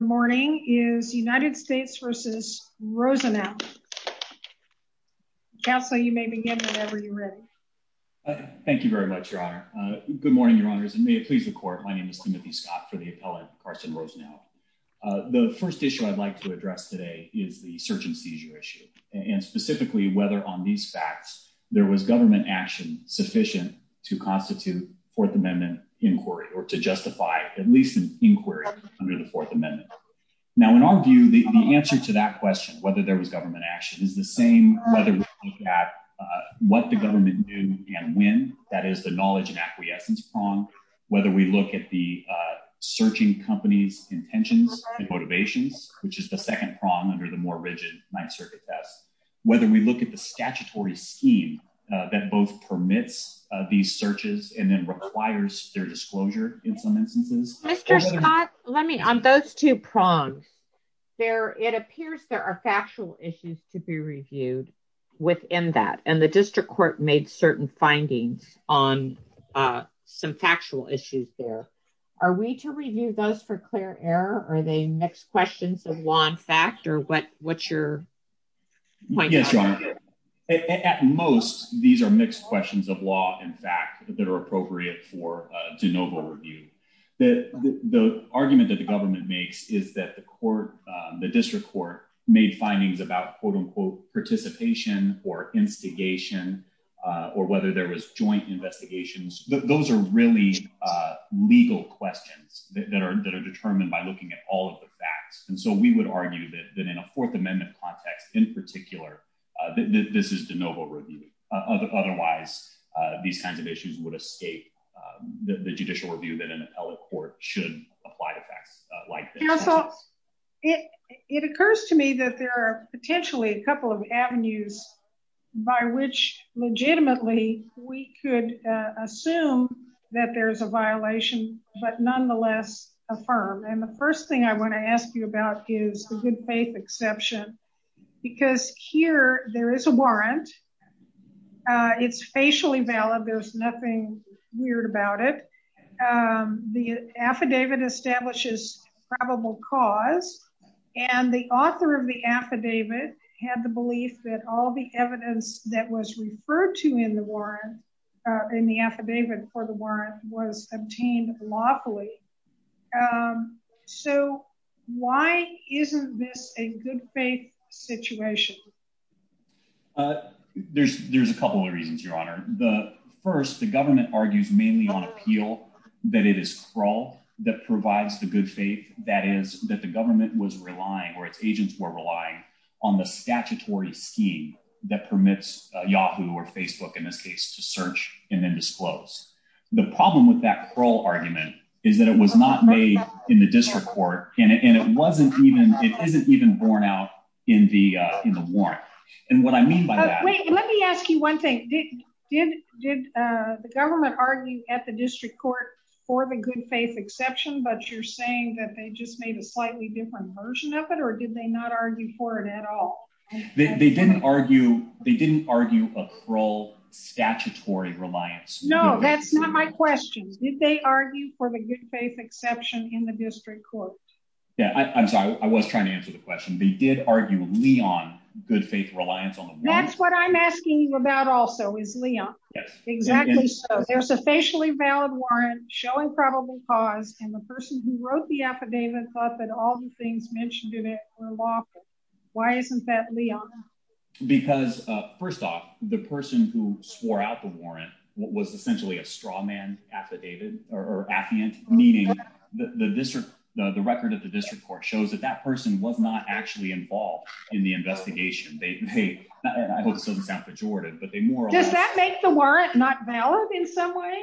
Good morning is United States v. Rosenow. Counselor, you may begin whenever you're ready. Thank you very much, Your Honor. Good morning, Your Honors, and may it please the Court. My name is Timothy Scott for the appellate, Carsten Rosenow. The first issue I'd like to address today is the search and seizure issue, and specifically whether on these facts there was government action sufficient to constitute Fourth Amendment inquiry or to justify at least inquiry under the Fourth Amendment. Now, in our view, the answer to that question, whether there was government action, is the same whether we look at what the government knew and when. That is the knowledge and acquiescence prong. Whether we look at the searching companies' intentions and motivations, which is the second prong under the more rigid Ninth Circuit test. Whether we look at the statutory scheme that both permits these searches and then requires their disclosure in some instances. Mr. Scott, let me, on those two prongs, there, it appears there are factual issues to be reviewed within that, and the district court made certain findings on some factual issues there. Are we to review those for clear error? Are they mixed questions of law and fact, or what's your point? Yes, Your Honor. At most, these are mixed questions of law and fact that are appropriate for de novo review. The argument that the government makes is that the court, the district court, made findings about, quote-unquote, participation or instigation or whether there was joint investigations. Those are really legal questions that are determined by looking at all of the facts, and so we would argue that in a Fourth Amendment context, in particular, that this is de novo review. Otherwise, these kinds of issues would escape the judicial review that an appellate court should apply to facts like this. Counsel, it occurs to me that there are potentially a couple of avenues by which legitimately we could assume that there's a violation, but nonetheless affirm, and the first I want to ask you about is the good faith exception, because here there is a warrant. It's facially valid. There's nothing weird about it. The affidavit establishes probable cause, and the author of the affidavit had the belief that all the evidence that was referred to in the warrant in the affidavit for the warrant was obtained lawfully. So why isn't this a good faith situation? There's a couple of reasons, Your Honor. First, the government argues mainly on appeal that it is crawl that provides the good faith, that is that the government was relying or its to search and then disclose. The problem with that parole argument is that it was not made in the district court, and it wasn't even. It isn't even borne out in the in the warrant. And what I mean by that, let me ask you one thing. Did did did the government argue at the district court for the good faith exception, but you're saying that they just made a slightly different version of it, or did they not argue for it at all? They didn't argue. They didn't argue a parole statutory reliance. No, that's not my question. Did they argue for the good faith exception in the district court? Yeah, I'm sorry. I was trying to answer the question. They did argue Leon good faith reliance on that's what I'm asking you about. Also is Leon. Yes, exactly. There's a facially valid warrant showing probable cause, and the person who wrote the affidavit thought that all the things mentioned in it were lawful. Why isn't that Leon? Because first off, the person who swore out the warrant was essentially a straw man affidavit or affiant, meaning the district, the record of the district court shows that that person was not actually involved in the investigation. They, I hope this doesn't sound pejorative, but they more. Does that make the warrant not valid in some way?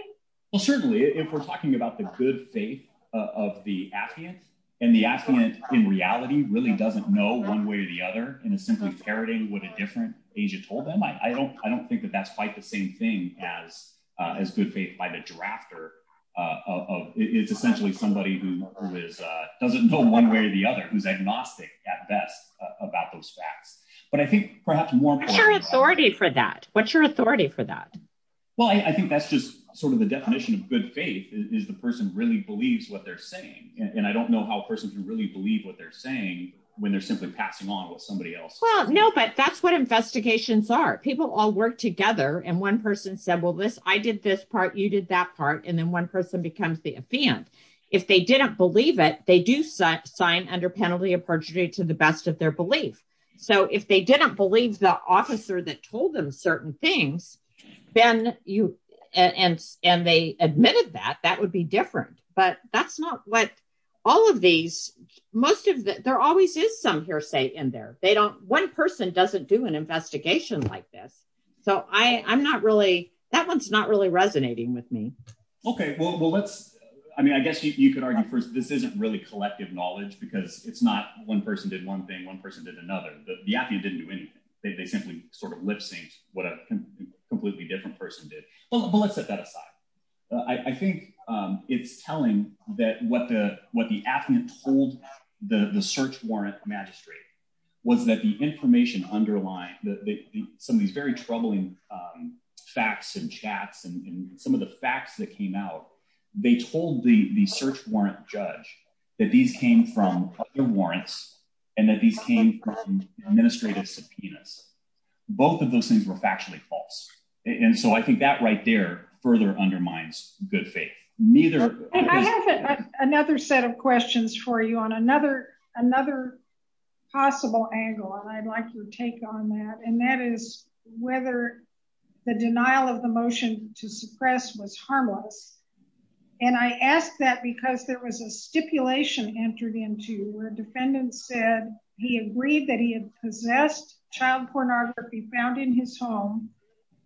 Well, certainly if we're talking about the good faith of the affiant, and the affiant in reality really doesn't know one way or the other, and is simply parroting what a different agent told them, I don't, I don't think that that's quite the same thing as, as good faith by the drafter of it's essentially somebody who is, doesn't know one way or the other, who's agnostic at best about those facts. But I think perhaps more authority for that. What's your authority for that? Well, I think that's just sort of the definition of good faith is the person really believes what they're saying. And I don't know how a person can really believe what they're saying, when they're simply passing on what Well, no, but that's what investigations are. People all work together. And one person said, well, this, I did this part, you did that part. And then one person becomes the affiant. If they didn't believe it, they do sign under penalty of perjury to the best of their belief. So if they didn't believe the officer that told them certain things, then you and, and they admitted that that would be different. But that's not what all of these, most of the, there always is some hearsay in there, they don't, one person doesn't do an investigation like this. So I'm not really, that one's not really resonating with me. Okay, well, let's, I mean, I guess you could argue first, this isn't really collective knowledge, because it's not one person did one thing, one person did another, the app, you didn't do anything, they simply sort of lip sync, what a completely different person did. But let's set that aside. I think it's telling that what the applicant told the search warrant magistrate was that the information underlying that some of these very troubling facts and chats and some of the facts that came out, they told the search warrant judge that these came from the warrants, and that these came from administrative subpoenas. Both of those things were factually false. And so I think that right there further undermines good faith, neither. I have another set of questions for you on another, another possible angle. And I'd like your take on that. And that is whether the denial of the motion to suppress was harmless. And I asked that because there was a stipulation entered into where defendants said he agreed that he had possessed child pornography found in his home.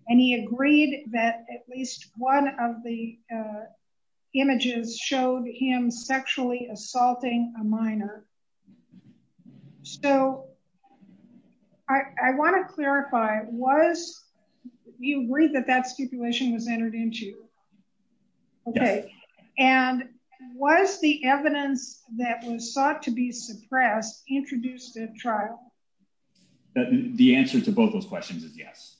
And he agreed that at least one of the images showed him sexually assaulting a minor. So I want to clarify was you worried that that stipulation was entered into? Okay. And was the evidence that was sought to be suppressed introduced at trial? That the answer to both those questions is yes.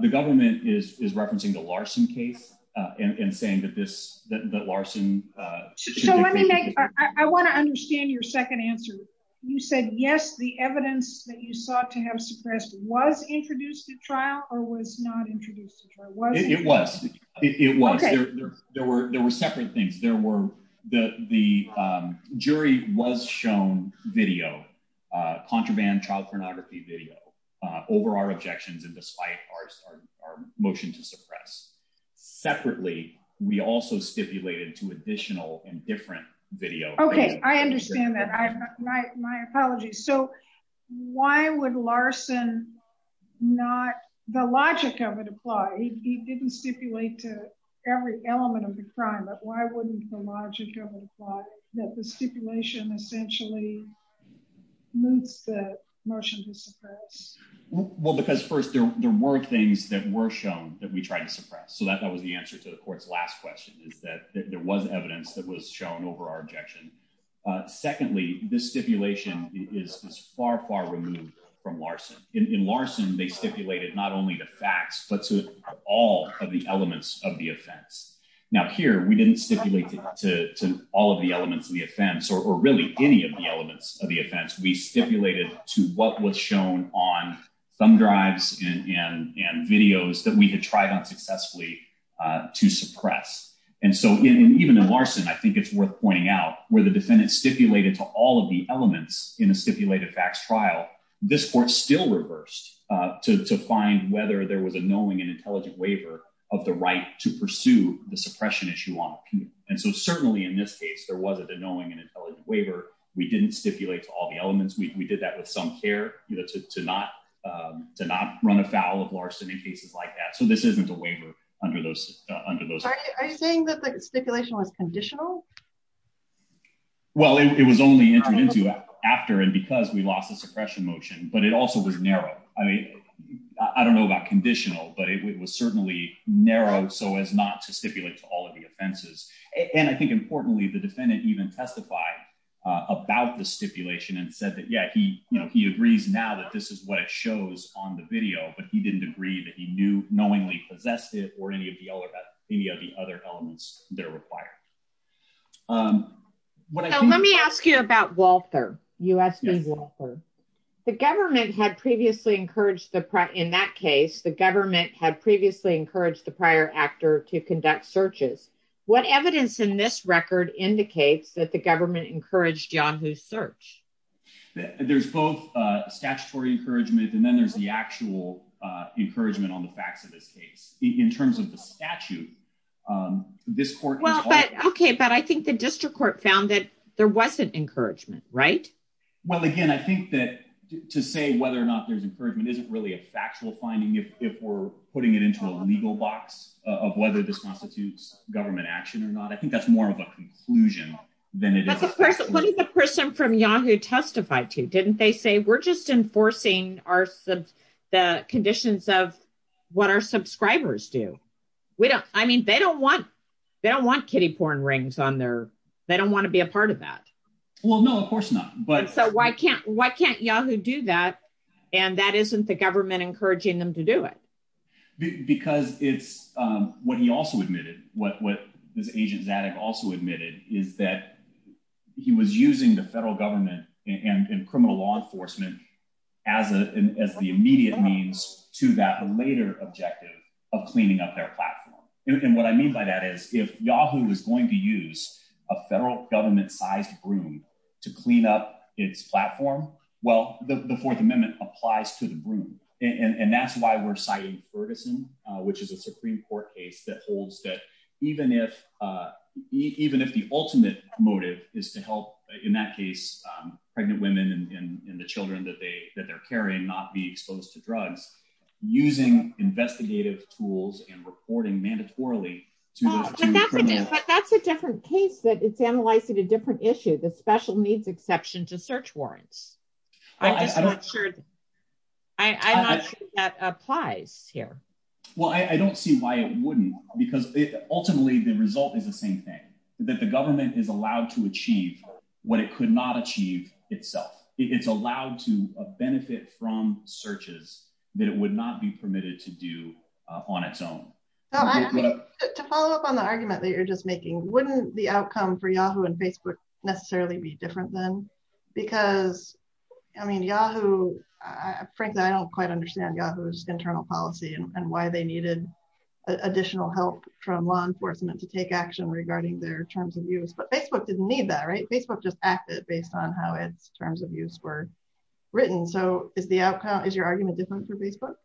The government is referencing the Larson case, and saying that this that Larson, I want to understand your second answer. You said yes, the evidence that you sought to have suppressed was introduced at trial or was not introduced? It was, it was there. There were separate things. There were the jury was shown video, contraband child pornography video, over our objections. And despite our motion to suppress separately, we also stipulated to additional and different video. Okay, I understand that. I my apology. So why would Larson, not the logic of it applied, he didn't stipulate to every element of the crime, but why wouldn't the logic of it apply that the stipulation essentially moves the motion to suppress? Well, because first, there were things that were shown that we tried to suppress. So that was the answer to the court's last question is that there was evidence that was over our objection. Secondly, this stipulation is far, far removed from Larson. In Larson, they stipulated not only the facts, but to all of the elements of the offense. Now here, we didn't stipulate to all of the elements of the offense, or really any of the elements of the offense we stipulated to what was shown on thumb drives and videos that we had tried on where the defendant stipulated to all of the elements in a stipulated facts trial, this court still reversed to find whether there was a knowing and intelligent waiver of the right to pursue the suppression issue on appeal. And so certainly in this case, there was a knowing and intelligent waiver, we didn't stipulate to all the elements, we did that with some care, you know, to not to not run afoul of Larson in cases like that. So this isn't a waiver under those under Are you saying that the stipulation was conditional? Well, it was only introduced after and because we lost the suppression motion, but it also was narrow. I mean, I don't know about conditional, but it was certainly narrow, so as not to stipulate to all of the offenses. And I think importantly, the defendant even testify about the stipulation and said that, yeah, he, you know, he agrees now that this is what it shows on the video, but he didn't agree that he knew knowingly possessed it or any of the other, any of the other elements that are required. Um, let me ask you about Walther, you asked me, the government had previously encouraged the in that case, the government had previously encouraged the prior actor to conduct searches. What evidence in this record indicates that the government encouraged Yahoo search, there's both statutory encouragement. And then there's the actual, uh, encouragement on the facts of this case in terms of the statute, um, this court. Well, but, okay. But I think the district court found that there wasn't encouragement, right? Well, again, I think that to say whether or not there's encouragement, isn't really a factual finding. If, if we're putting it into a legal box of whether this constitutes government action or not, I think that's more of a conclusion than it is a person from Yahoo testified to, didn't they say, we're just enforcing our sub the conditions of what our subscribers do. We don't, I mean, they don't want, they don't want kiddie porn rings on there. They don't want to be a part of that. Well, no, of course not. But so why can't, why can't Yahoo do that? And that isn't the government encouraging them to do it because it's, um, what he also admitted what, what this agent's addict also admitted is that he was using the federal government and criminal law enforcement as a, as the immediate means to that later objective of cleaning up their platform. And what I mean by that is if Yahoo is going to use a federal government sized room to clean up its platform, well, the fourth amendment applies to the room. And that's why we're citing Ferguson, which is a Supreme court case that holds that even if, uh, even if the ultimate motive is to help in that case, um, pregnant women and the children that they, that they're carrying, not be exposed to drugs, using investigative tools and reporting mandatorily. That's a different case that it's analyzing a different issue. The special needs exception to search warrants. I'm just not sure that applies here. Well, I don't see why it wouldn't because ultimately the result is the same thing that the government is allowed to achieve what it could not achieve itself. It's allowed to benefit from searches that it would not be permitted to do on its own. To follow up on the argument that you're just making, wouldn't the outcome for Yahoo and Facebook necessarily be different then? Because I mean, Yahoo, frankly, I don't quite understand Yahoo's internal policy and why they needed additional help from law enforcement to take action regarding their terms of use, but Facebook didn't need that, right? Facebook just acted based on how its terms of use were written. So is the outcome, is your argument different for Facebook?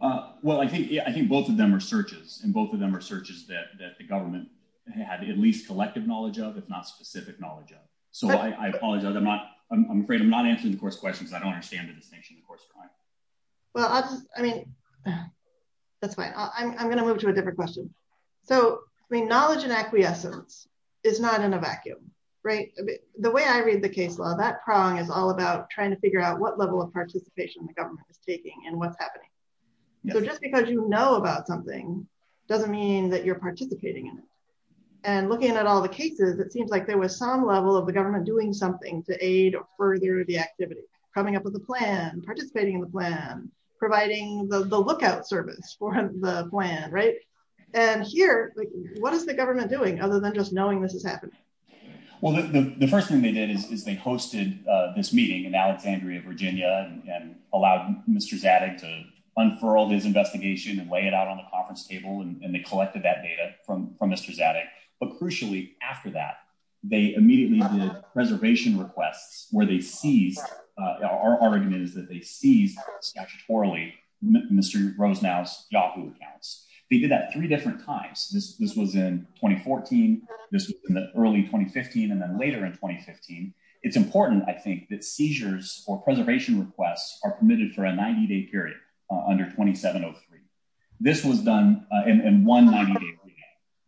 Uh, well, I think, yeah, I think both of them are searches and both of them are searches that the government had at least collective knowledge of, if not specific knowledge of. So I apologize. I'm afraid I'm not answering the course questions. I don't understand the distinction of course. Well, I mean, that's fine. I'm going to move to a different question. So I mean, knowledge and acquiescence is not in a vacuum, right? The way I read the case law, that prong is all about trying to figure out what level of participation the government is taking and what's happening. So just because you know about something doesn't mean that you're participating in it. And looking at all the cases, it seems like there was some level of the government doing something to aid or further the activity, coming up with a plan, participating in the plan, providing the lookout service for the plan, right? And here, what is the government doing other than just knowing this is happening? Well, the first thing they did is they hosted this meeting in Alexandria, Virginia, and allowed Mr. Zadig to unfurl his investigation and lay it out on the conference table. And they collected that data from Mr. Zadig. But crucially, after that, they immediately did preservation requests where they seized, our argument is that they seized statutorily Mr. Rosenau's Yahoo accounts. They did that three It's important, I think that seizures or preservation requests are permitted for a 90 day period under 2703. This was done in one 90 day period.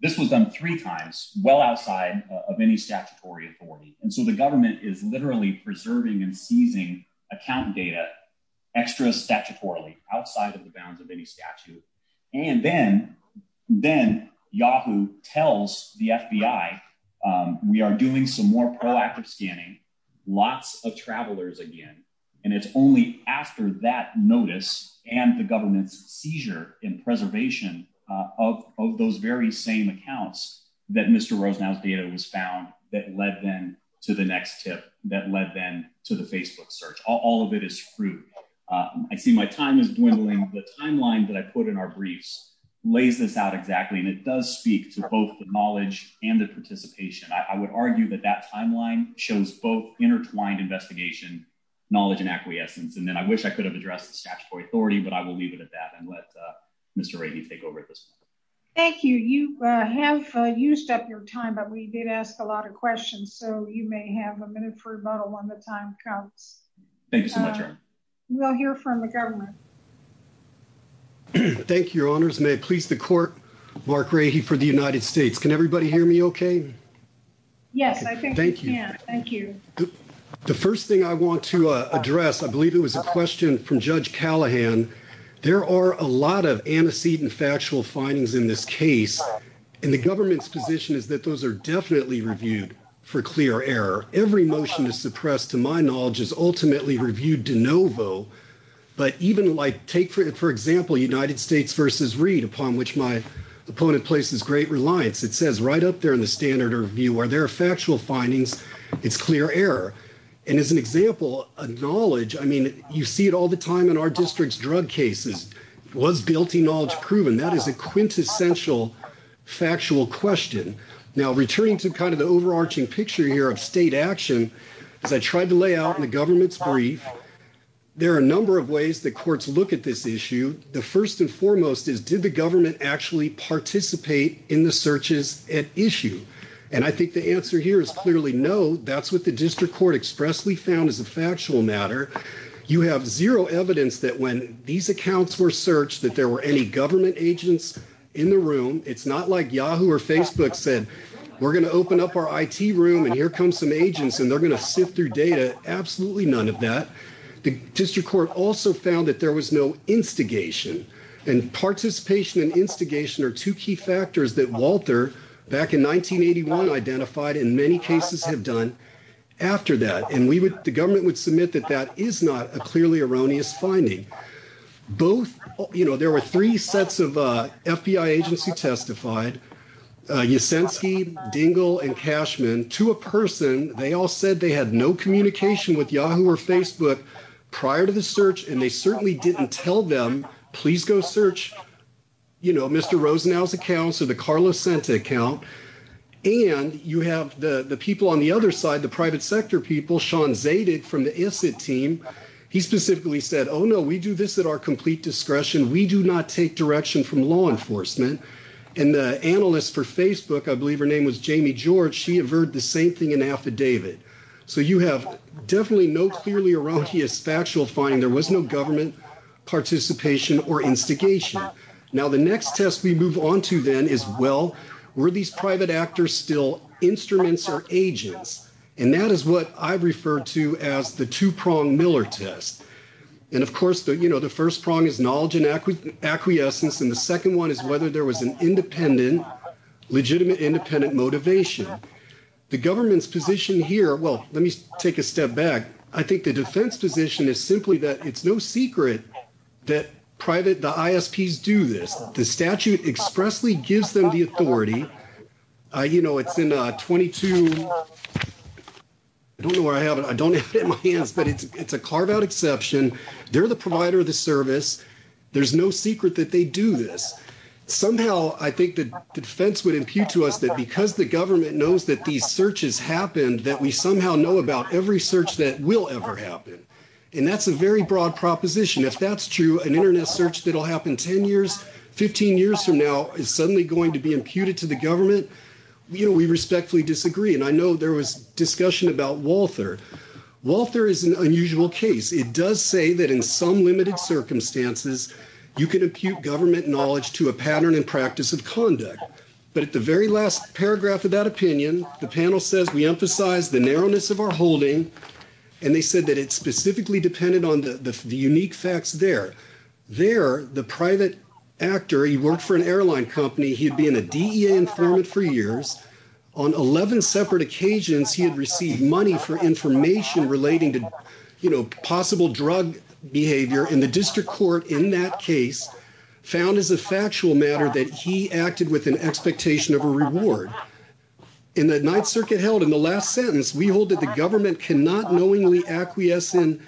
This was done three times well outside of any statutory authority. And so the government is literally preserving and seizing account data extra statutorily outside of the bounds of any statute. And then, then Yahoo tells the FBI, we are doing some more proactive scanning, lots of travelers again. And it's only after that notice and the government's seizure in preservation of those very same accounts that Mr. Rosenau's data was found that led them to the next tip that led them to the Facebook search. All of it is fruit. I see my time is dwindling. The timeline that I put in our briefs lays this out exactly. And it I would argue that that timeline shows both intertwined investigation, knowledge and acquiescence. And then I wish I could have addressed the statutory authority, but I will leave it at that and let Mr. Rainey take over this. Thank you. You have used up your time, but we did ask a lot of questions. So you may have a minute for a bottle when the time comes. Thank you so much. We'll hear from the government. Thank you, Your Honors. May it please the court. Mark Rahy for the United States. Can everybody hear me OK? Yes. Thank you. Thank you. The first thing I want to address, I believe it was a question from Judge Callahan. There are a lot of antecedent factual findings in this case. And the government's position is that those are definitely reviewed for clear error. Every motion is suppressed to my knowledge is ultimately reviewed de novo. But even like take, for example, United States versus Reid, upon which my opponent places great reliance, it says right up there in the standard of view where there are factual findings, it's clear error. And as an example, a knowledge I mean, you see it all the time in our district's drug cases was guilty, knowledge proven. That is a quintessential factual question. Now, returning to kind of the overarching picture here of state action, as I tried to lay out in the government's brief, there are a number of ways that courts look at this issue. The first and foremost is, did the government actually participate in the searches at issue? And I think the answer here is clearly no. That's what the district court expressly found is a factual matter. You have zero evidence that when these accounts were searched, that there were any government agents in the room. It's not like Yahoo or Facebook said we're going to open up our I.T. room and here come some agents and they're going to instigation. And participation and instigation are two key factors that Walter, back in 1981, identified in many cases have done after that. And we would the government would submit that that is not a clearly erroneous finding. Both you know, there were three sets of FBI agents who testified, Yasinski, Dingell and Cashman to a person. They all said they had no communication with Yahoo or Facebook prior to the search. And they certainly didn't tell them, please go search, you know, Mr. Rosenau's accounts or the Carlos center account. And you have the people on the other side, the private sector people, Sean Zated from the team. He specifically said, oh, no, we do this at our complete discretion. We do not take direction from law enforcement. And the analysts for Facebook, I believe her name was Jamie George. She averred the same thing in affidavit. So you have definitely no clearly erroneous, factual finding. There was no government participation or instigation. Now, the next test we move on to then is, well, were these private actors still instruments or agents? And that is what I've referred to as the two prong Miller test. And of course, you know, the first prong is knowledge and acquiescence. And the second one is whether there was an The government's position here. Well, let me take a step back. I think the defense position is simply that it's no secret that private, the ISPs do this. The statute expressly gives them the authority. You know, it's in 22. I don't know where I have it. I don't have it in my hands, but it's a carve out exception. They're the provider of the service. There's no secret that they do this. Somehow, I think that the defense would impute to us that because the searches happened, that we somehow know about every search that will ever happen. And that's a very broad proposition. If that's true, an internet search that'll happen 10 years, 15 years from now is suddenly going to be imputed to the government. You know, we respectfully disagree. And I know there was discussion about Walther. Walther is an unusual case. It does say that in some limited circumstances, you can impute government knowledge to a pattern and practice of conduct. But at the very last paragraph of that opinion, the panel says we emphasize the narrowness of our holding. And they said that it specifically depended on the unique facts there. There, the private actor, he worked for an airline company. He'd been a DEA informant for years. On 11 separate occasions, he had received money for information relating to, you know, possible drug behavior. And the district court in that case found as a factual matter that he acted with an expectation of a reward. In the Ninth Circuit held in the last sentence, we hold that the government cannot knowingly acquiesce in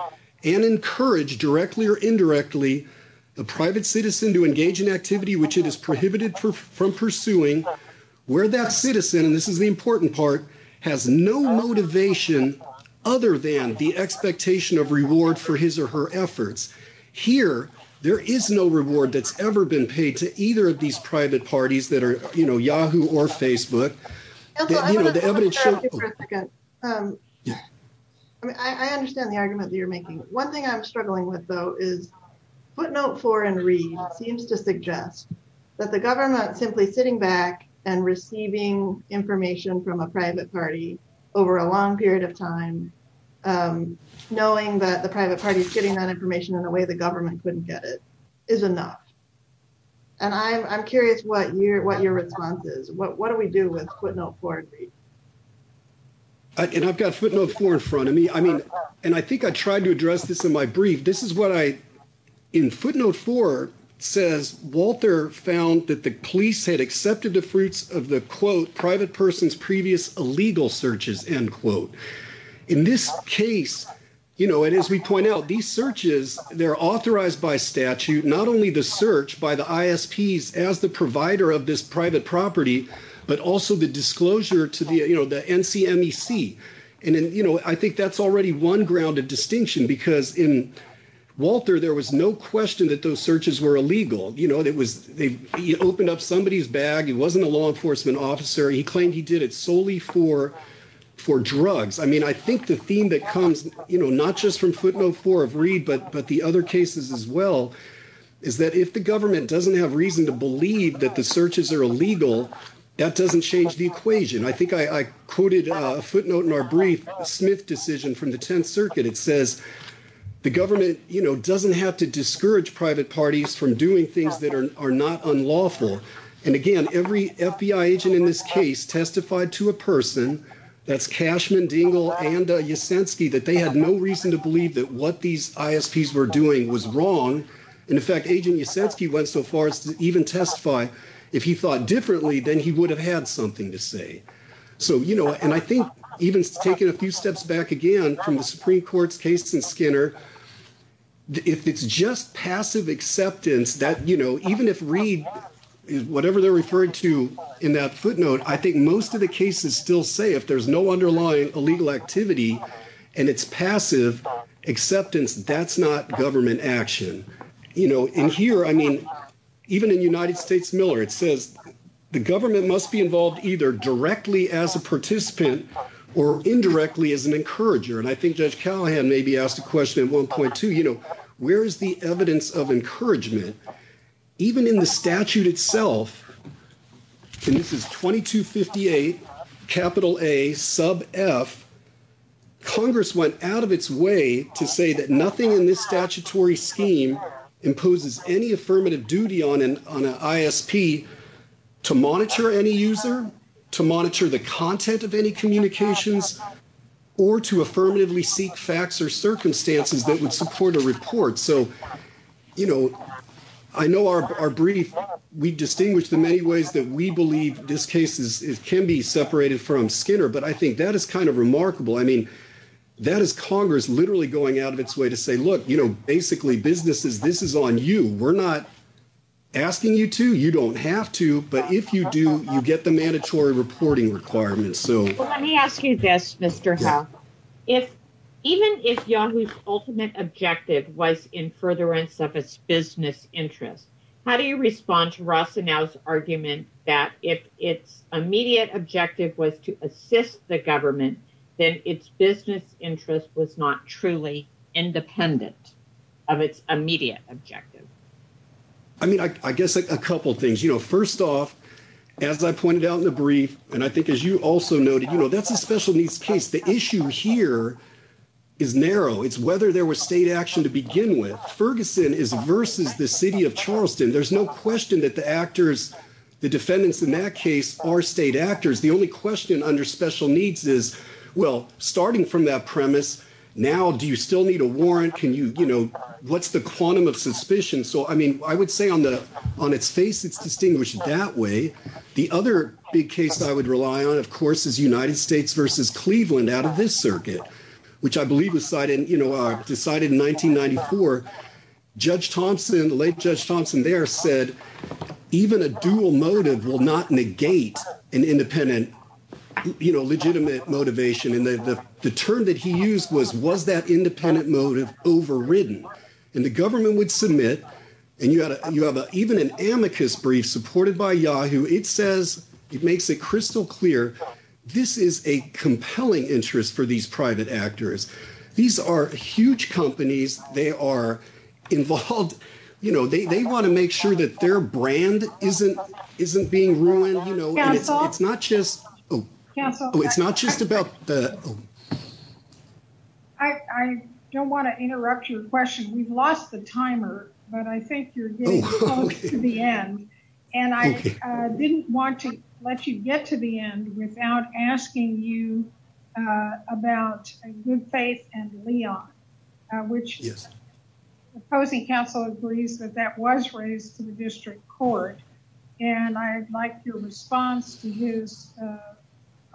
and encourage directly or indirectly the private citizen to engage in activity which it is prohibited from pursuing where that citizen, and this is the important part, has no motivation other than the expectation of reward for his or her efforts. Here, there is no reward that's ever been paid to either of these private parties that are, you know, Yahoo or Facebook. And so I want to clarify for a second. I mean, I understand the argument that you're making. One thing I'm struggling with, though, is footnote four in Reed seems to suggest that the government simply sitting back and receiving information from a private party over a long period of time, knowing that the private party is getting that information in a way the government couldn't get it, is enough. And I'm curious what your response is. What do we do with footnote four in Reed? And I've got footnote four in front of me. I mean, and I think I tried to address this in my brief. This is what I, in footnote four, says Walter found that the police had accepted the legal searches, end quote. In this case, you know, and as we point out, these searches, they're authorized by statute, not only the search by the ISPs as the provider of this private property, but also the disclosure to the, you know, the NCMEC. And, you know, I think that's already one grounded distinction, because in Walter, there was no question that those searches were illegal. You know, it was, he opened up somebody's bag. He wasn't a law enforcement officer. He claimed he did it solely for drugs. I mean, I think the theme that comes, you know, not just from footnote four of Reed, but the other cases as well, is that if the government doesn't have reason to believe that the searches are illegal, that doesn't change the equation. I think I quoted a footnote in our brief, a Smith decision from the 10th Circuit. It says the government, you know, doesn't have to discourage private parties from doing things that are not unlawful. And again, every FBI agent in this case testified to a person, that's Cashman, Dingell, and Yasinski, that they had no reason to believe that what these ISPs were doing was wrong. And in fact, Agent Yasinski went so far as to even testify, if he thought differently, then he would have had something to say. So, you know, and I think even taking a few steps back again from the Supreme Court's case in Skinner, if it's just passive acceptance that, you know, even if Reed, whatever they're referring to in that footnote, I think most of the cases still say if there's no underlying illegal activity, and it's passive acceptance, that's not government action. You know, in here, I mean, even in United States Miller, it says the government must be involved either directly as a participant or indirectly as an encourager. And I think Judge Callahan maybe asked a question in 1.2, you know, where is the evidence of encouragement? Even in the statute itself, and this is 2258, capital A, sub F, Congress went out of its way to say that nothing in this statutory scheme imposes any affirmative duty on an ISP to monitor any user, to monitor the report. So, you know, I know our brief, we distinguish the many ways that we believe this case is can be separated from Skinner. But I think that is kind of remarkable. I mean, that is Congress literally going out of its way to say, look, you know, basically businesses, this is on you. We're not asking you to, you don't have to. But if you do, you get the mandatory reporting requirements. So let me ask you this, Mr. Howe, if even if Yahoo's ultimate objective was in furtherance of its business interest, how do you respond to Rossanau's argument that if its immediate objective was to assist the government, then its business interest was not truly independent of its immediate objective? I mean, I guess a couple things, you know, first off, as I pointed out in the brief, and I think as you also noted, you know, that's a special needs case. The issue here is narrow. It's whether there was state action to begin with. Ferguson is versus the city of Charleston. There's no question that the actors, the defendants in that case are state actors. The only question under special needs is, well, starting from that premise, now do you still need a warrant? Can you, you know, what's the quantum of suspicion? So, I mean, I would say on the on its face, it's distinguished that way. The other big case I would rely on, of course, is United States versus Cleveland out of this circuit, which I believe decided in 1994, Judge Thompson, the late Judge Thompson there said, even a dual motive will not negate an independent, you know, legitimate motivation. And the term that he used was, that independent motive overridden. And the government would submit, and you have even an amicus brief supported by Yahoo. It says, it makes it crystal clear, this is a compelling interest for these private actors. These are huge companies. They are involved, you know, they want to make that their brand isn't being ruined, you know, and it's not just, oh, it's not just about the. I don't want to interrupt your question. We've lost the timer, but I think you're getting close to the end. And I didn't want to let you get to the end without asking you about Good Faith and the District Court. And I'd like your response to his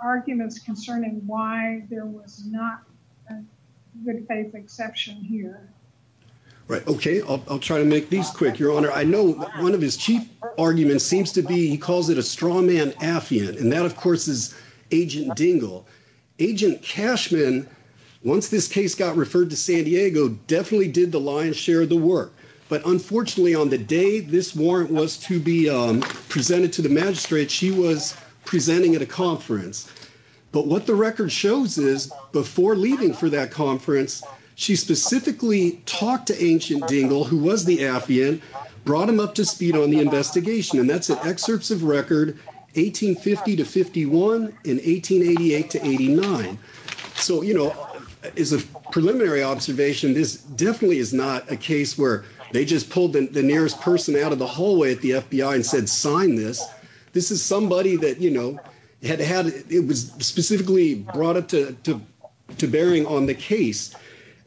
arguments concerning why there was not a Good Faith exception here. Right. Okay. I'll try to make these quick, Your Honor. I know one of his chief arguments seems to be, he calls it a straw man affiant. And that of course is Agent Dingell. Agent Cashman, once this case got referred to San Diego, definitely did the work. But unfortunately, on the day this warrant was to be presented to the magistrate, she was presenting at a conference. But what the record shows is, before leaving for that conference, she specifically talked to Agent Dingell, who was the affiant, brought him up to speed on the investigation. And that's an excerpts of record 1850 to 51 in 1888 to 89. So, you know, as a case where they just pulled the nearest person out of the hallway at the FBI and said, sign this. This is somebody that, you know, it was specifically brought up to bearing on the case.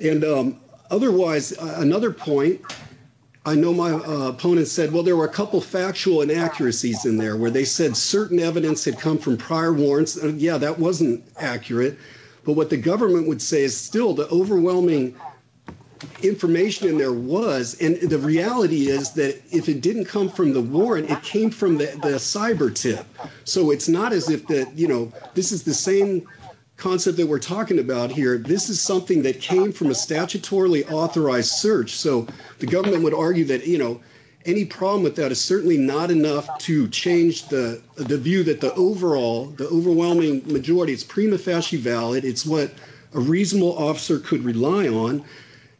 And otherwise, another point, I know my opponent said, well, there were a couple of factual inaccuracies in there where they said certain evidence had come from prior warrants. Yeah, that wasn't accurate. But what the government would say is still the overwhelming information in there was. And the reality is that if it didn't come from the warrant, it came from the cyber tip. So it's not as if that, you know, this is the same concept that we're talking about here. This is something that came from a statutorily authorized search. So the government would argue that, you know, any problem with that is certainly not enough to change the view that the overall, the overwhelming majority is prima facie valid. It's what a on.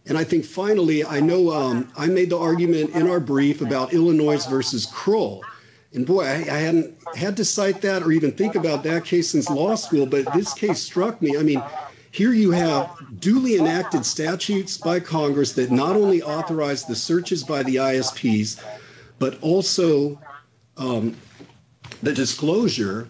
And I think finally, I know I made the argument in our brief about Illinois versus Kroll. And boy, I hadn't had to cite that or even think about that case since law school. But this case struck me. I mean, here you have duly enacted statutes by Congress that not only authorized the searches by the ISPs, but also the disclosure.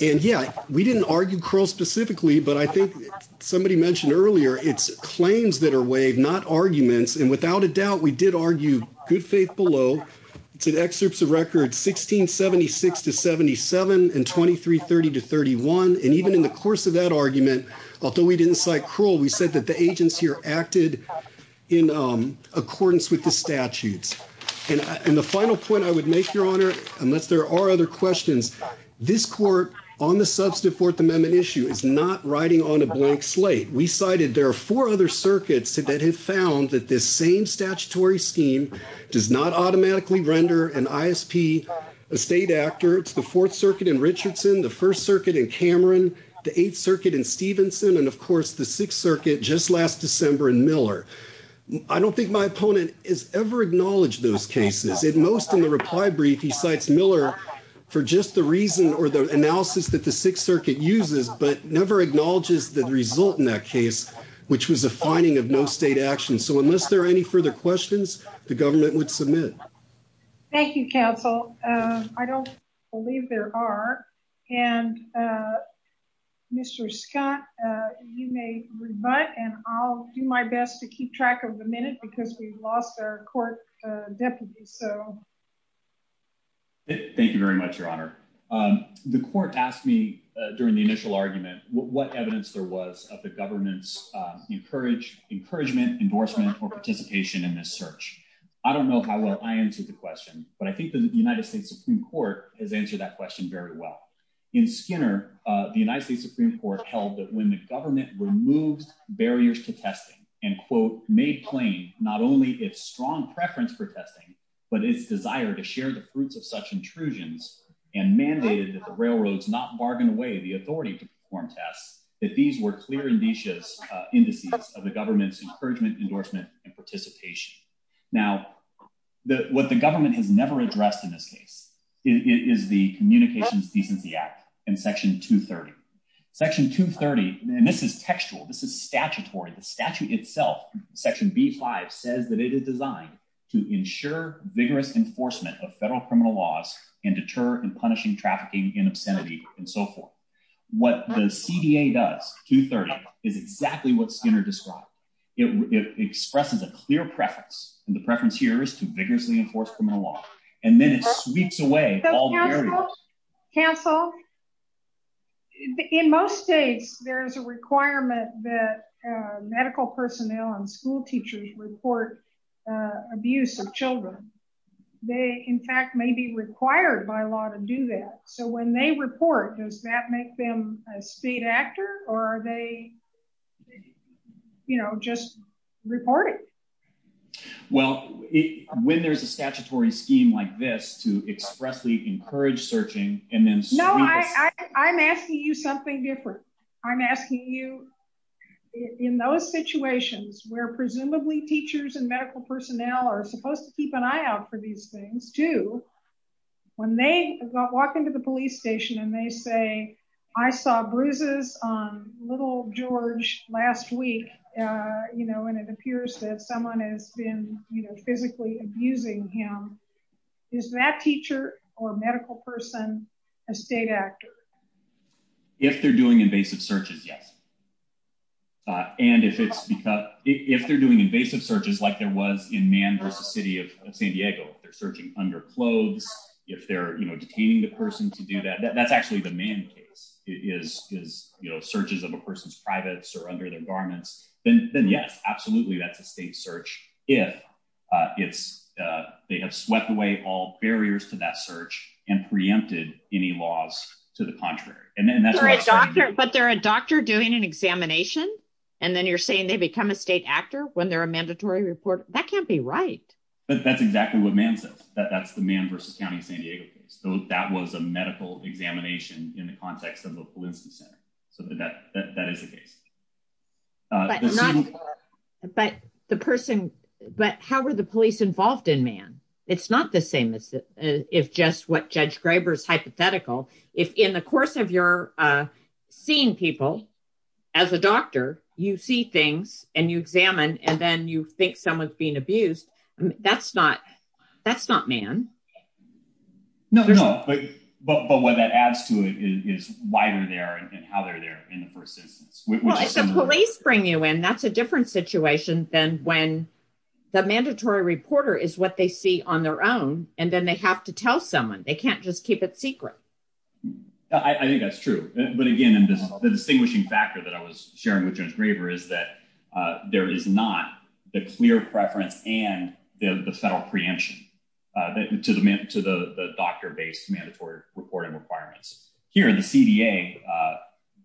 And yeah, we didn't argue Kroll specifically, but I think somebody mentioned earlier, it's claims that are waived, not arguments. And without a doubt, we did argue good faith below. It's an excerpts of records, 1676 to 77 and 2330 to 31. And even in the course of that argument, although we didn't cite Kroll, we said that the agents here acted in accordance with the statutes. And the final point I would make your honor, unless there are other questions, this court on the substantive fourth amendment issue is not riding on a blank slate. We cited, there are four other circuits that have found that this same statutory scheme does not automatically render an ISP a state actor. It's the fourth circuit in Richardson, the first circuit in Cameron, the eighth circuit in Stevenson. And of course the sixth circuit just last December in Miller. I don't think my opponent is ever acknowledged those cases. At most in the reply brief, he cites Miller for just the reason or the analysis that the sixth circuit uses, but never acknowledges the result in that case, which was a finding of no state action. So unless there are any further questions, the government would submit. Thank you, counsel. I don't believe there are. And Mr. Scott, you may rebut, and I'll do my best to keep track of the minute because we've lost our court deputy. So thank you very much, your honor. The court asked me during the initial argument, what evidence there was of the government's encourage encouragement, endorsement, or participation in this search. I don't know how well I answered the question, but I think the United States Supreme court has answered that question very well. In Skinner, the United States Supreme court held that when the government removed barriers to testing, but its desire to share the fruits of such intrusions and mandated that the railroads not bargain away the authority to perform tests, that these were clear and vicious indices of the government's encouragement, endorsement, and participation. Now, what the government has never addressed in this case is the communications decency act and section two 30 section two 30. And this is textual. This is statutory. The statute itself, section B five says that it is designed to ensure vigorous enforcement of federal criminal laws and deter and punishing trafficking in obscenity and so forth. What the CDA does two 30 is exactly what Skinner described. It expresses a clear preference. And the preference here is to vigorously enforce criminal law. And then it sweeps away all the barriers. Counsel in most states, there is a requirement that medical personnel and school teachers report abuse of children. They in fact may be required by law to do that. So when they report, does that make them a state actor or are they, you know, just reporting? Well, it when there's a statutory scheme like this to expressly encourage searching, and then I'm asking you something different. I'm asking you in those situations where presumably teachers and medical personnel are supposed to keep an eye out for these things to when they walk into the police station, and they say, I saw bruises on little George last week, you know, and it says someone has been, you know, physically abusing him. Is that teacher or medical person, a state actor? If they're doing invasive searches? Yes. And if it's because if they're doing invasive searches, like there was in man versus city of San Diego, they're searching under clothes. If they're, you know, detaining the person to do that, that's actually the main case is, is, you know, searches of a person's privates or under their garments, then yes, absolutely. That's a state search. If it's, they have swept away all barriers to that search and preempted any laws to the contrary. And then that's, but they're a doctor doing an examination. And then you're saying they become a state actor when they're a mandatory report. That can't be right. But that's exactly what man says that that's the man versus county of San Diego case. So that was a medical examination in the context of the police center. So that, that is the case. But the person, but how were the police involved in man? It's not the same as if just what judge Graber's hypothetical, if in the course of your seeing people as a doctor, you see things and you examine, and then you think someone's being abused. That's not, that's not man. No, but, but what that adds to it is why we're there and how they're there in the first instance, the police bring you in. That's a different situation than when the mandatory reporter is what they see on their own. And then they have to tell someone they can't just keep it secret. I think that's true. But again, the distinguishing factor that I was sharing with judge Graber is that there is not the clear preference and the federal preemption to the, to the, the doctor based mandatory reporting requirements here in the CDA,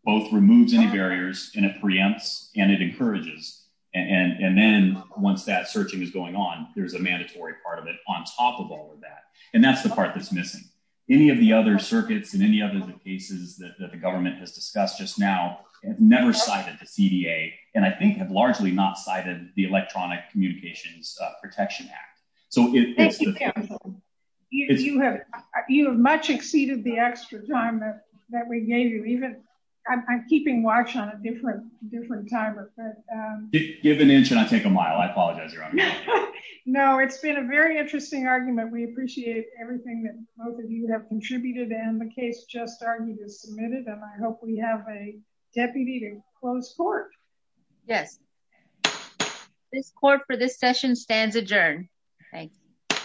both removes any barriers and it preempts and it encourages. And then once that searching is going on, there's a mandatory part of it on top of all of that. And that's the part that's missing any of the other circuits and any other cases that the government has discussed just now, never cited the CDA. And I think have largely not cited the electronic communications protection act. So you have much exceeded the extra time that we gave you even I'm keeping watch on a different, different time. Give an inch and I'll take a mile. I apologize. No, it's been a very interesting argument. We appreciate everything that both of you have contributed and the case just started to submit it. And I hope we have a deputy to close court. Yes. This court for this session stands adjourned. Thank you.